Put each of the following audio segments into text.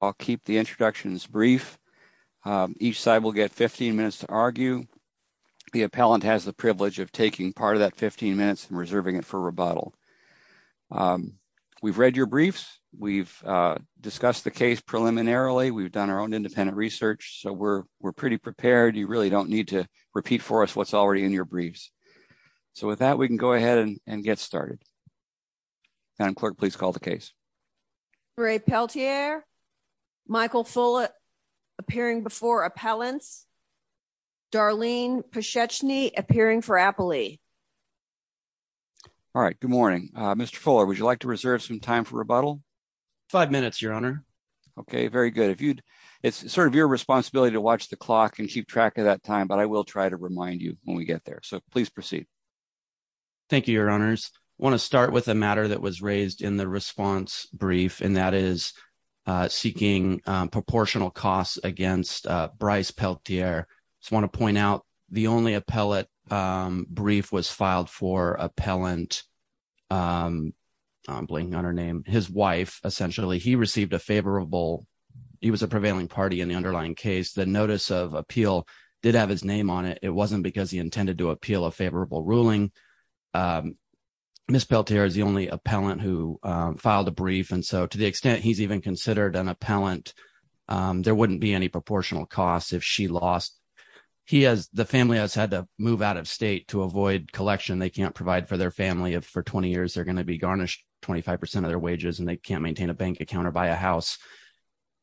I'll keep the introductions brief. Each side will get 15 minutes to argue. The appellant has the privilege of taking part of that 15 minutes and reserving it for rebuttal. We've read your briefs. We've discussed the case preliminarily. We've done our own independent research, so we're pretty prepared. You really don't need to repeat for us what's already in your briefs. So with that, we can go ahead and get started. Madam Clerk, please call the case. Ray Peltier. Michael Fuller appearing before appellants. Darlene Pescecchini appearing for appellee. All right. Good morning, Mr. Fuller. Would you like to reserve some time for rebuttal? Five minutes, Your Honor. Okay, very good. It's sort of your responsibility to watch the clock and keep track of that time, but I will try to remind you when we get there. So please proceed. Thank you, Your Honors. I want to start with a matter that was raised in the response brief, and that is seeking proportional costs against Bryce Peltier. I just want to point out the only appellate brief was filed for appellant, I'm blanking on her name, his wife, essentially. He received a favorable, he was a prevailing party in the underlying case. The notice of appeal did have his name on it. It wasn't because he intended to appeal a favorable ruling. Ms. Peltier is the only appellant who filed a brief, and so to the extent he's even considered an appellant, there wouldn't be any proportional costs if she lost. The family has had to move out of state to avoid collection they can't provide for their family if for 20 years they're going to be garnished 25% of their wages and they can't maintain a bank account or buy a house.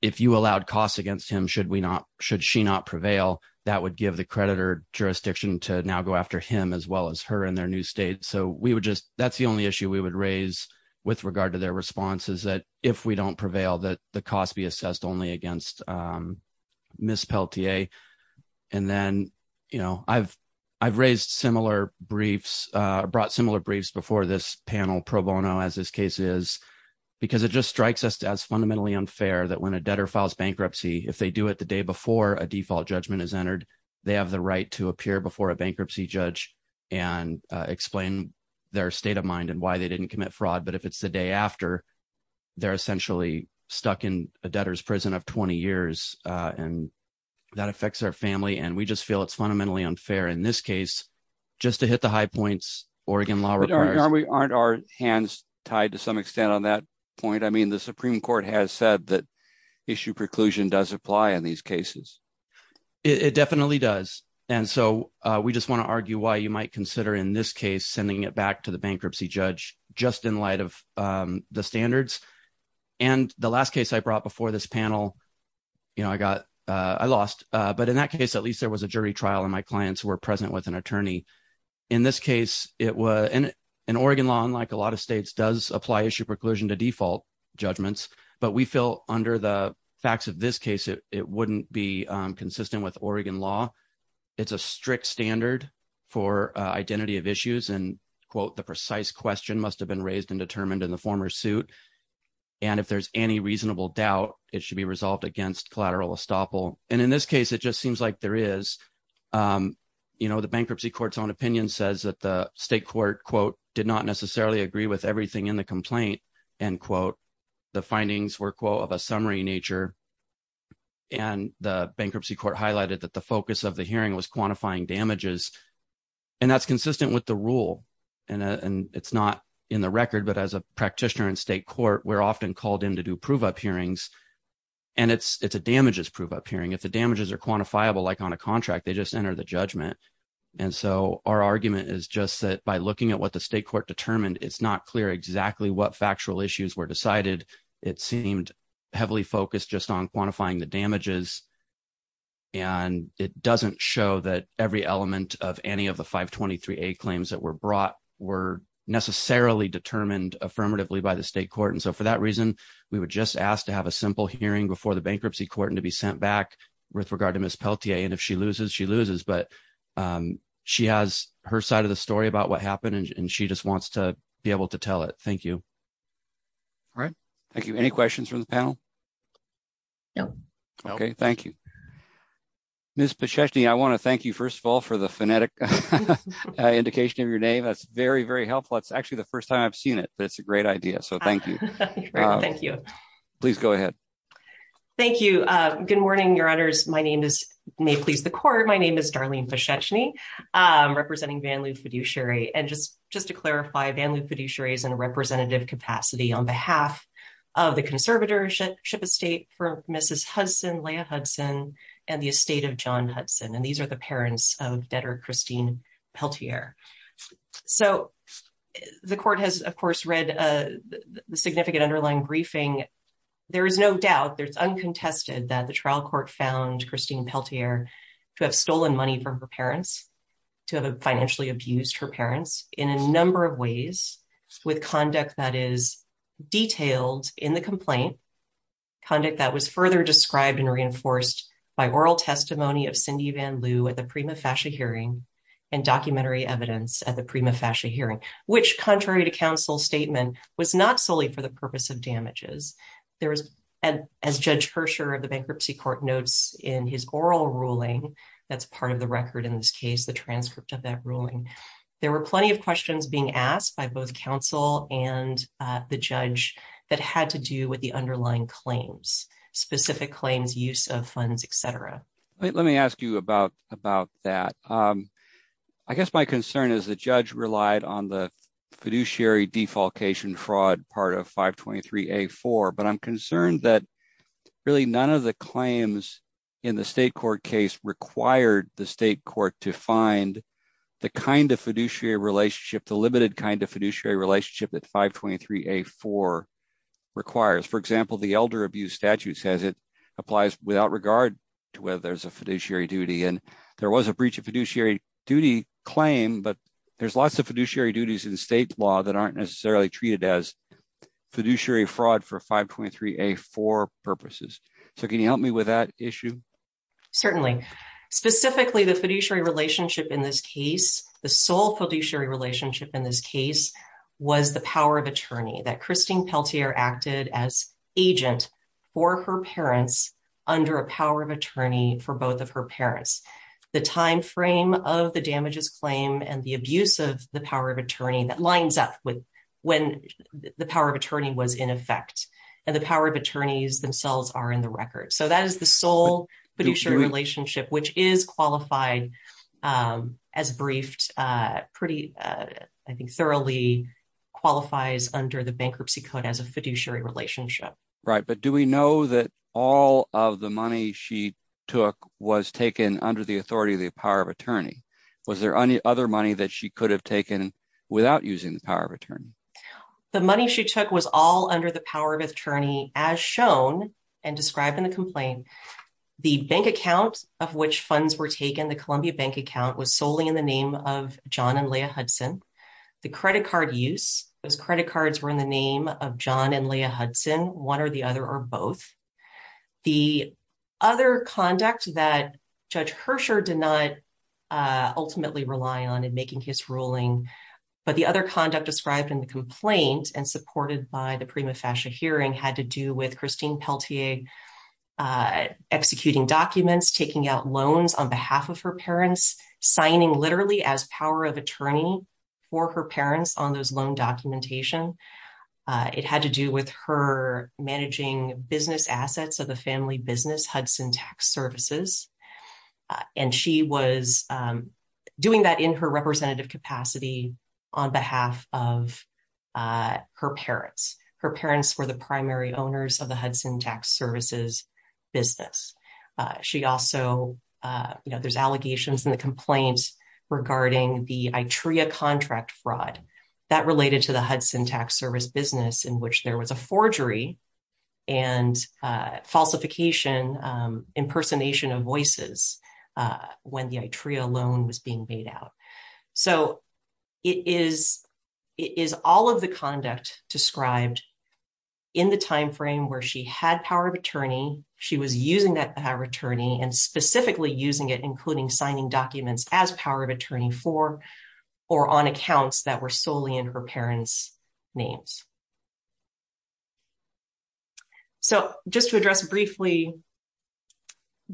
If you allowed costs against him, should she not prevail, that would give the creditor jurisdiction to now go after him as well as her in their new state. So that's the only issue we would raise with regard to their response is that if we don't prevail that the costs be assessed only against Ms. Peltier. And then I've raised similar briefs, brought similar briefs before this panel pro bono as this case is, because it just strikes us as fundamentally unfair that when a debtor files bankruptcy, if they do it the day before a default judgment is entered, they have the right to appear before a bankruptcy judge and explain their state of mind and why they didn't commit fraud. But if it's the day after, they're essentially stuck in a debtor's prison of 20 years and that affects their family. And we just feel it's fundamentally unfair in this case, just to hit the high points Oregon law requires. Aren't our hands tied to some extent on that point? I mean, the Supreme Court has said that issue preclusion does apply in these cases. It definitely does. And so we just want to argue why you might consider in this case, sending it back to the bankruptcy judge just in light of the standards. And the last case I brought before this panel, I lost, but in that case, at least there was a jury trial and my clients were present with an attorney. In this case, in Oregon law, unlike a lot of states does apply issue preclusion to default judgments, but we feel under the facts of this case, it wouldn't be consistent with Oregon law. It's a strict standard for identity of issues and quote, the precise question must have been raised and determined in the former suit. And if there's any reasonable doubt, it should be resolved against collateral estoppel. And in this case, it just seems like there is, the bankruptcy court's own opinion says that the state court quote, did not necessarily agree with everything in the complaint and quote, the findings were quote of a summary nature. And the bankruptcy court highlighted that the focus of the hearing was quantifying damages. And that's consistent with the rule. And it's not in the record, but as a practitioner in state court, we're often called in to do prove up hearings. And it's a damages prove up hearing. If the damages are quantifiable, like on a contract, they just enter the judgment. And so our argument is just that by looking at what the state court determined, it's not clear exactly what factual issues were decided. It seemed heavily focused just on quantifying the damages. And it doesn't show that every element of any of the 523A claims that were brought were necessarily determined affirmatively by the state court. And so for that to have a simple hearing before the bankruptcy court and to be sent back with regard to Ms. Peltier and if she loses, she loses, but she has her side of the story about what happened and she just wants to be able to tell it. Thank you. All right. Thank you. Any questions from the panel? No. Okay. Thank you. Ms. Pacheczny, I want to thank you, first of all, for the phonetic indication of your name. That's very, very helpful. It's actually the first time I've heard that. It's a great idea. So thank you. Please go ahead. Thank you. Good morning, your honors. My name is, may it please the court, my name is Darlene Pacheczny, representing Van Loo Fiduciary. And just to clarify, Van Loo Fiduciary is in a representative capacity on behalf of the conservatorship estate for Mrs. Hudson, Leah Hudson, and the estate of John Hudson. And these are the parents of debtor Christine Peltier. So the court has, of course, read the significant underlying briefing. There is no doubt, there's uncontested that the trial court found Christine Peltier to have stolen money from her parents, to have financially abused her parents in a number of ways, with conduct that is detailed in the complaint, conduct that was further described and reinforced by oral testimony of Cindy Van Loo at the Prima Fascia hearing, and documentary evidence at the Prima Fascia hearing, which contrary to counsel statement, was not solely for the purpose of damages. There was, as Judge Hersher of the Bankruptcy Court notes in his oral ruling, that's part of the record in this case, the transcript of that ruling. There were plenty of questions being asked by both counsel and the judge that had to do with the underlying claims, specific claims, use of funds, etc. Let me ask you about that. I guess my concern is the judge relied on the fiduciary defalcation fraud part of 523A4, but I'm concerned that really none of the claims in the state court case required the state court to find the kind of fiduciary relationship, the limited kind of fiduciary relationship that 523A4 requires. For example, the elder abuse statute says it applies without regard to whether there's fiduciary duty. There was a breach of fiduciary duty claim, but there's lots of fiduciary duties in state law that aren't necessarily treated as fiduciary fraud for 523A4 purposes. Can you help me with that issue? Certainly. Specifically, the fiduciary relationship in this case, the sole fiduciary relationship in this case, was the power of attorney, that Christine Peltier acted as agent for her parents under a power of attorney for both of her parents. The time frame of the damages claim and the abuse of the power of attorney that lines up with when the power of attorney was in effect, and the power of attorneys themselves are in the record. So that is the sole fiduciary relationship, which is qualified as briefed, pretty, I think, thoroughly qualifies under the bankruptcy code as a fiduciary relationship. Right. But do we know that all of the money she took was taken under the authority of the power of attorney? Was there any other money that she could have taken without using the power of attorney? The money she took was all under the power of attorney as shown and described in the complaint. The bank account of which funds were taken, the Columbia Bank account, was solely in the name of John and Leah Hudson. The credit card use, those credit cards were in the name of John and Leah Hudson, one or the other or both. The other conduct that Judge Hersher did not ultimately rely on in making his ruling, but the other conduct described in the complaint and supported by the Prima Fascia hearing had to do with Christine Peltier executing documents, taking out loans on behalf of her for her parents on those loan documentation. It had to do with her managing business assets of the family business, Hudson Tax Services. And she was doing that in her representative capacity on behalf of her parents. Her parents were the primary owners of the Hudson Tax Services business. She also, there's allegations in the complaints regarding the ITREA contract fraud that related to the Hudson Tax Service business in which there was a forgery and falsification, impersonation of voices when the ITREA loan was being made out. So it is all of the conduct described in the timeframe where she had power of attorney, she was using that power of attorney and specifically using it including signing documents as power of attorney for or on accounts that were solely in her parents' names. So just to address briefly,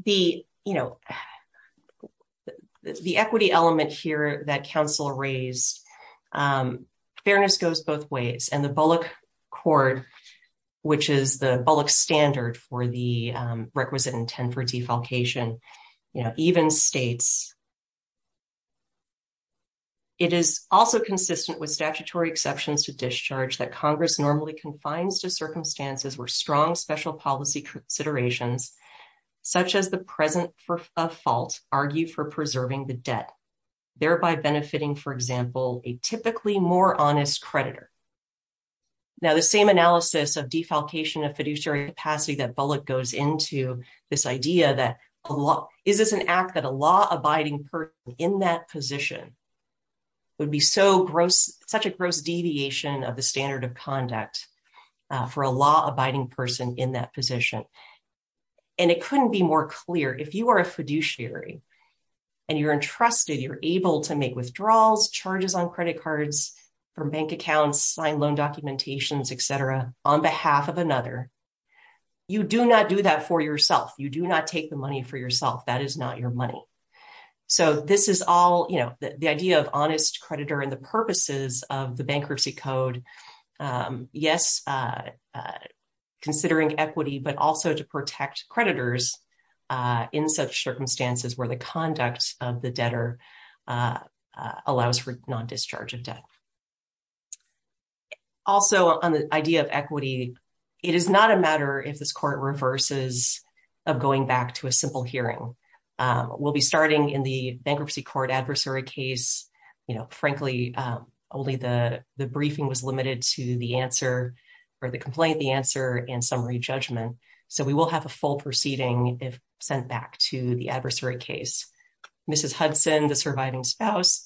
the equity element here that counsel raised, fairness goes both ways and the Bullock Cord, which is the Bullock standard for the requisite intent for defalcation, you know, even states. It is also consistent with statutory exceptions to discharge that Congress normally confines to circumstances where strong special policy considerations such as the present for a fault argue for preserving the debt, thereby benefiting, for example, a typically more honest creditor. Now the same analysis of defalcation of fiduciary capacity that Bullock goes into, this idea that is this an act that a law-abiding person in that position would be so gross, such a gross deviation of the standard of conduct for a law-abiding person in that position. And it couldn't be more clear. If you are a fiduciary and you're entrusted, you're able to make withdrawals, charges on credit cards from bank accounts, sign loan documentations, etc. on behalf of another, you do not do that for yourself. You do not take the money for yourself. That is not your money. So this is all, you know, the idea of honest creditor and the purposes of considering equity, but also to protect creditors in such circumstances where the conduct of the debtor allows for non-discharge of debt. Also on the idea of equity, it is not a matter if this court reverses of going back to a simple hearing. We'll be starting in the bankruptcy court adversary case, you know, frankly, only the complaint, the answer, and summary judgment. So we will have a full proceeding if sent back to the adversary case. Mrs. Hudson, the surviving spouse,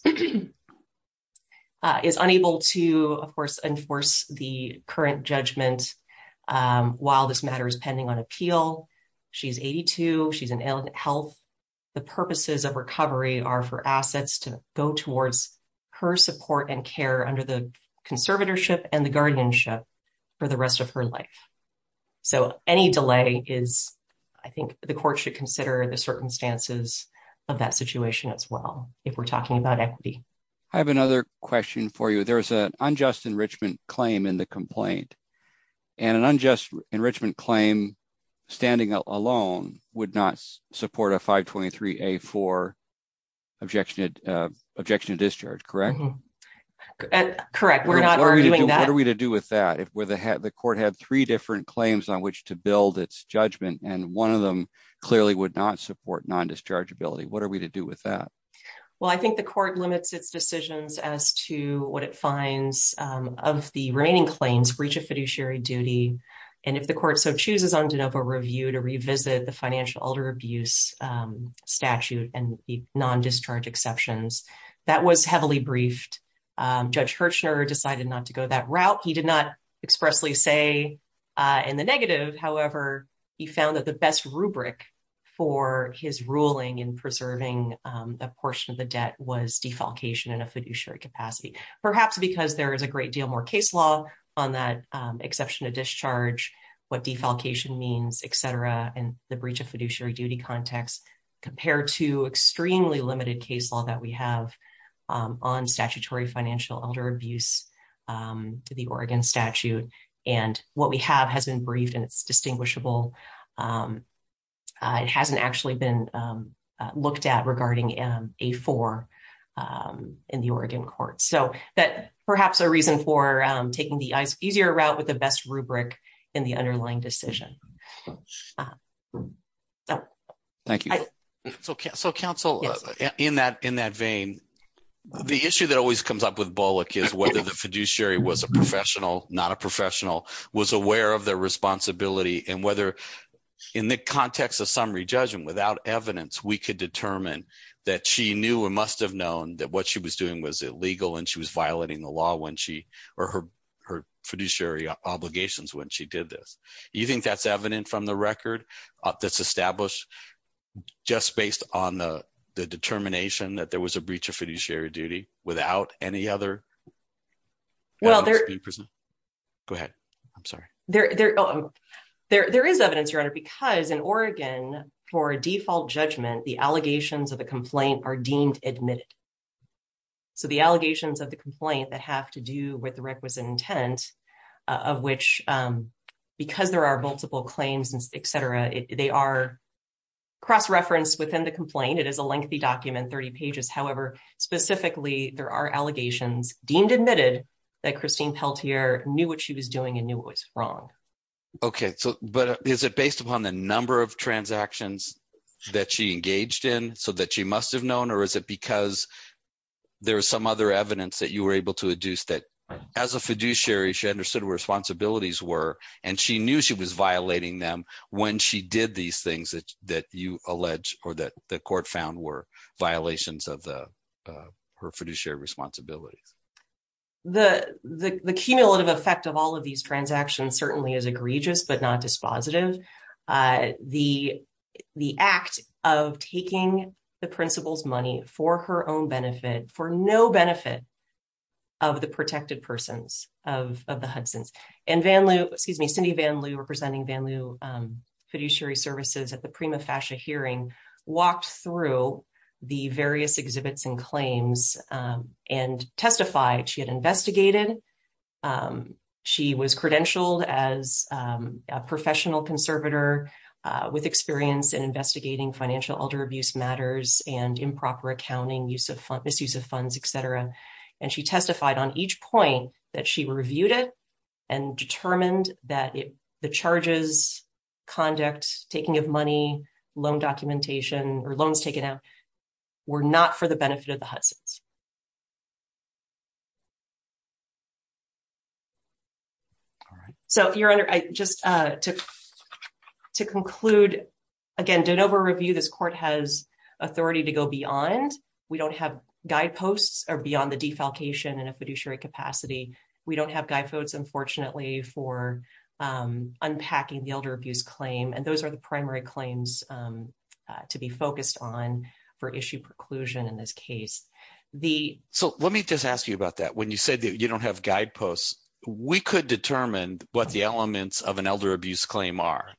is unable to, of course, enforce the current judgment while this matter is pending on appeal. She's 82. She's in ill health. The purposes of recovery are for assets to go towards her support and care under the conservatorship and the guardianship for the rest of her life. So any delay is, I think, the court should consider the circumstances of that situation as well if we're talking about equity. I have another question for you. There's an unjust enrichment claim in the complaint, and an unjust enrichment claim standing alone would not support a 523A4 objection to discharge, correct? Correct. We're not arguing that. What are we to do with that if the court had three different claims on which to build its judgment, and one of them clearly would not support non-dischargeability? What are we to do with that? Well, I think the court limits its decisions as to what it finds of the remaining claims, breach of fiduciary duty, and if the court so chooses on de novo review to Judge Hirschner decided not to go that route. He did not expressly say in the negative. However, he found that the best rubric for his ruling in preserving that portion of the debt was defalcation in a fiduciary capacity, perhaps because there is a great deal more case law on that exception to discharge, what defalcation means, et cetera, and the breach of fiduciary context compared to extremely limited case law that we have on statutory financial elder abuse to the Oregon statute. And what we have has been briefed, and it's distinguishable. It hasn't actually been looked at regarding A4 in the Oregon court. So that perhaps a reason for taking the easier route with the best rubric in the underlying decision. Thank you. So counsel in that vein, the issue that always comes up with Bullock is whether the fiduciary was a professional, not a professional, was aware of their responsibility and whether in the context of summary judgment without evidence, we could determine that she knew or must have known that what she was doing was illegal and she was violating the law when she or her fiduciary obligations when she did this. Do you think that's evident from the record that's established just based on the determination that there was a breach of fiduciary duty without any other? Go ahead. I'm sorry. There is evidence, your honor, because in Oregon for a default judgment, the allegations of the complaint are deemed admitted. So the allegations of the complaint that have to do with the requisite intent of which because there are multiple claims, et cetera, they are cross-referenced within the complaint. It is a lengthy document, 30 pages. However, specifically there are allegations deemed admitted that Christine Peltier knew what she was doing and knew what was wrong. Okay. So, but is it based upon the number of transactions that she engaged in so that she there was some other evidence that you were able to adduce that as a fiduciary, she understood what her responsibilities were and she knew she was violating them when she did these things that you allege or that the court found were violations of her fiduciary responsibilities. The cumulative effect of all of these transactions certainly is egregious, but not dispositive. The act of taking the principal's money for her own benefit, for no benefit of the protected persons of the Hudson's and Cindy Vanloo representing Vanloo fiduciary services at the Prima Fascia hearing walked through the various exhibits and claims and she had investigated. She was credentialed as a professional conservator with experience in investigating financial elder abuse matters and improper accounting, misuse of funds, et cetera. And she testified on each point that she reviewed it and determined that the charges, conduct, taking of money, loan documentation or loans taken out were not for the benefit of the person. So your honor, just to conclude, again, don't over-review. This court has authority to go beyond. We don't have guideposts or beyond the defalcation in a fiduciary capacity. We don't have guideposts, unfortunately, for unpacking the elder abuse claim. And those are the primary claims to be focused on for issue preclusion in this case. So let me just ask you about that. When you said that you don't have guideposts, we could determine what the elements of an elder abuse claim are,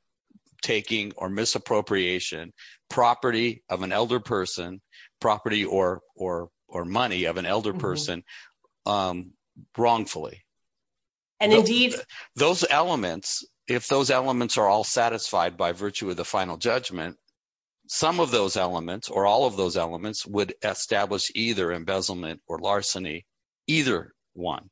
taking or misappropriation, property of an elder person, property or money of an elder person, wrongfully. Those elements, if those elements are all satisfied by virtue of the final judgment, some of those elements or all of those elements would establish either embezzlement or larceny, either one,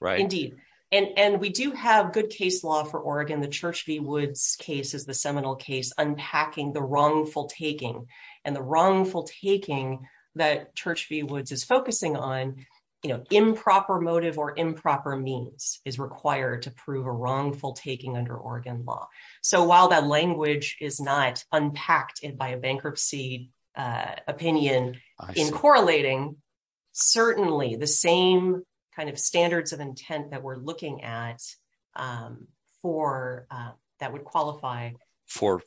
right? Indeed. And we do have good case law for Oregon. The Church v. Woods case is the seminal case unpacking the wrongful taking and the wrongful taking that Church v. Woods is focusing on improper motive or improper means is required to prove a wrongful taking under Oregon law. So while that language is not unpacked by a bankruptcy opinion in correlating, certainly the same kind of standards of intent that we're looking at that would qualify for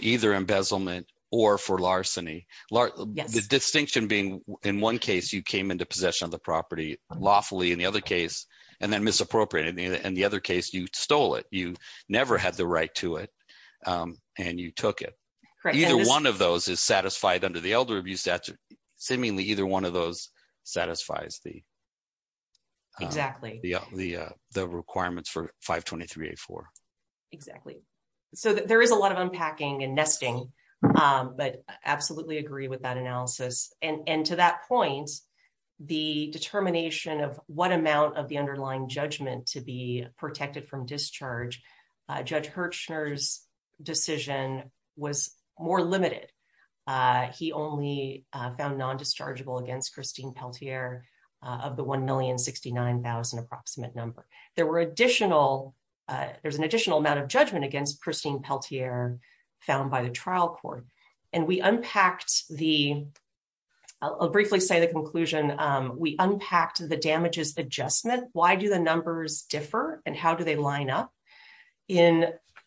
either embezzlement or for larceny. The distinction being in one case, you came into possession of the property lawfully in the other case and then misappropriated it. In the other case, you stole it. You never had the right to it and you took it. Either one of those is satisfied under the elder abuse statute. Seemingly either one of those satisfies the requirements for 523.84. Exactly. So there is a lot of unpacking and nesting, but absolutely agree with that analysis. And to that point, the determination of what amount of the underlying judgment to be protected from discharge, Judge Hirchner's decision was more limited. He only found non-dischargeable against Christine Peltier of the 1,069,000 approximate number. There were additional, there's an additional amount of judgment against Christine Peltier found by the trial court. And we unpacked the, I'll briefly say the conclusion, we unpacked the damages adjustment. Why do the numbers differ and how do they line up? In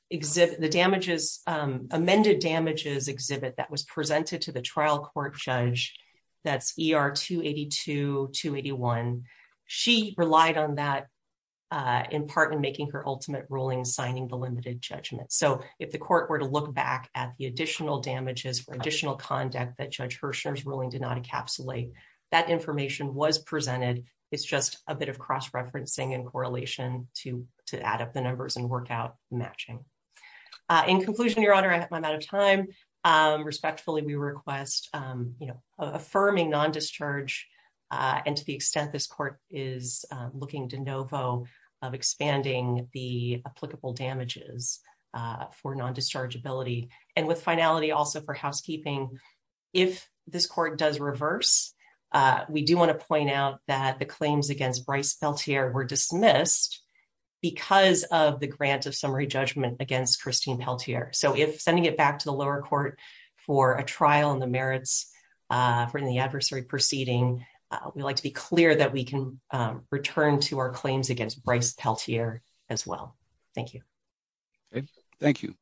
the damages, amended damages exhibit that was presented to the trial court judge, that's ER 282, 281. She relied on that in part in making her ultimate ruling, signing the limited judgment. So if the court were to look back at the additional damages for which Judge Hirchner's ruling did not encapsulate, that information was presented. It's just a bit of cross-referencing and correlation to add up the numbers and work out matching. In conclusion, Your Honor, I'm out of time. Respectfully, we request affirming non-discharge and to the extent this court is looking de novo of expanding the applicable damages for non-dischargeability. And with finality also for housekeeping, if this court does reverse, we do want to point out that the claims against Bryce Peltier were dismissed because of the grant of summary judgment against Christine Peltier. So if sending it back to the lower court for a trial in the merits for the adversary proceeding, we'd like to be clear that we can return to our claims against Peltier as well. Thank you. Thank you.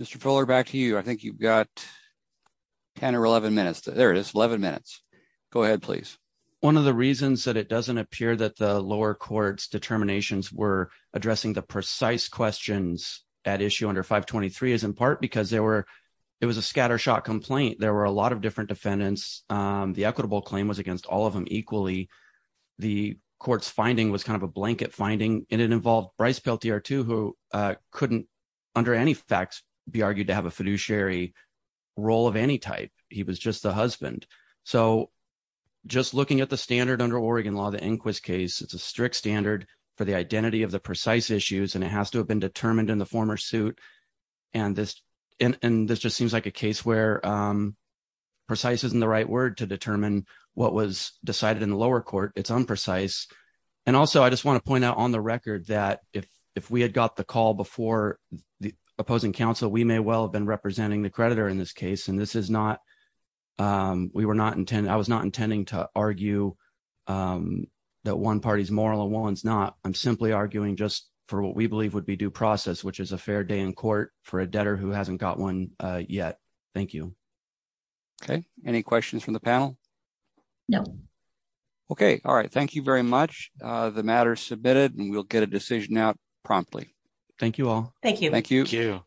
Mr. Fuller, back to you. I think you've got 10 or 11 minutes. There it is, 11 minutes. Go ahead, please. One of the reasons that it doesn't appear that the lower court's determinations were addressing the precise questions at issue under 523 is in part because there were, it was a scattershot complaint. There were a lot of different defendants. The equitable claim was against all of them equally. The court's finding was kind of a blanket finding, and it involved Bryce Peltier too, who couldn't under any facts be argued to have a fiduciary role of any type. He was just the husband. So just looking at the standard under Oregon law, the Inquis case, it's a strict standard for the identity of the precise issues, and it has to have been determined in the former suit. And this just seems like a case where precise isn't the right word to determine what was decided in the lower court. It's unprecise. And also, I just want to point out on the record that if we had got the call before the opposing counsel, we may well have been representing the creditor in this case. And this is not, I was not intending to argue that one party's moral and one's not. I'm simply arguing just for what we believe would be due process, which is a fair day in court for a debtor who hasn't got one yet. Thank you. Okay. Any questions from the panel? No. Okay. All right. Thank you very much. The matter is submitted and we'll get a decision out promptly. Thank you all. Thank you.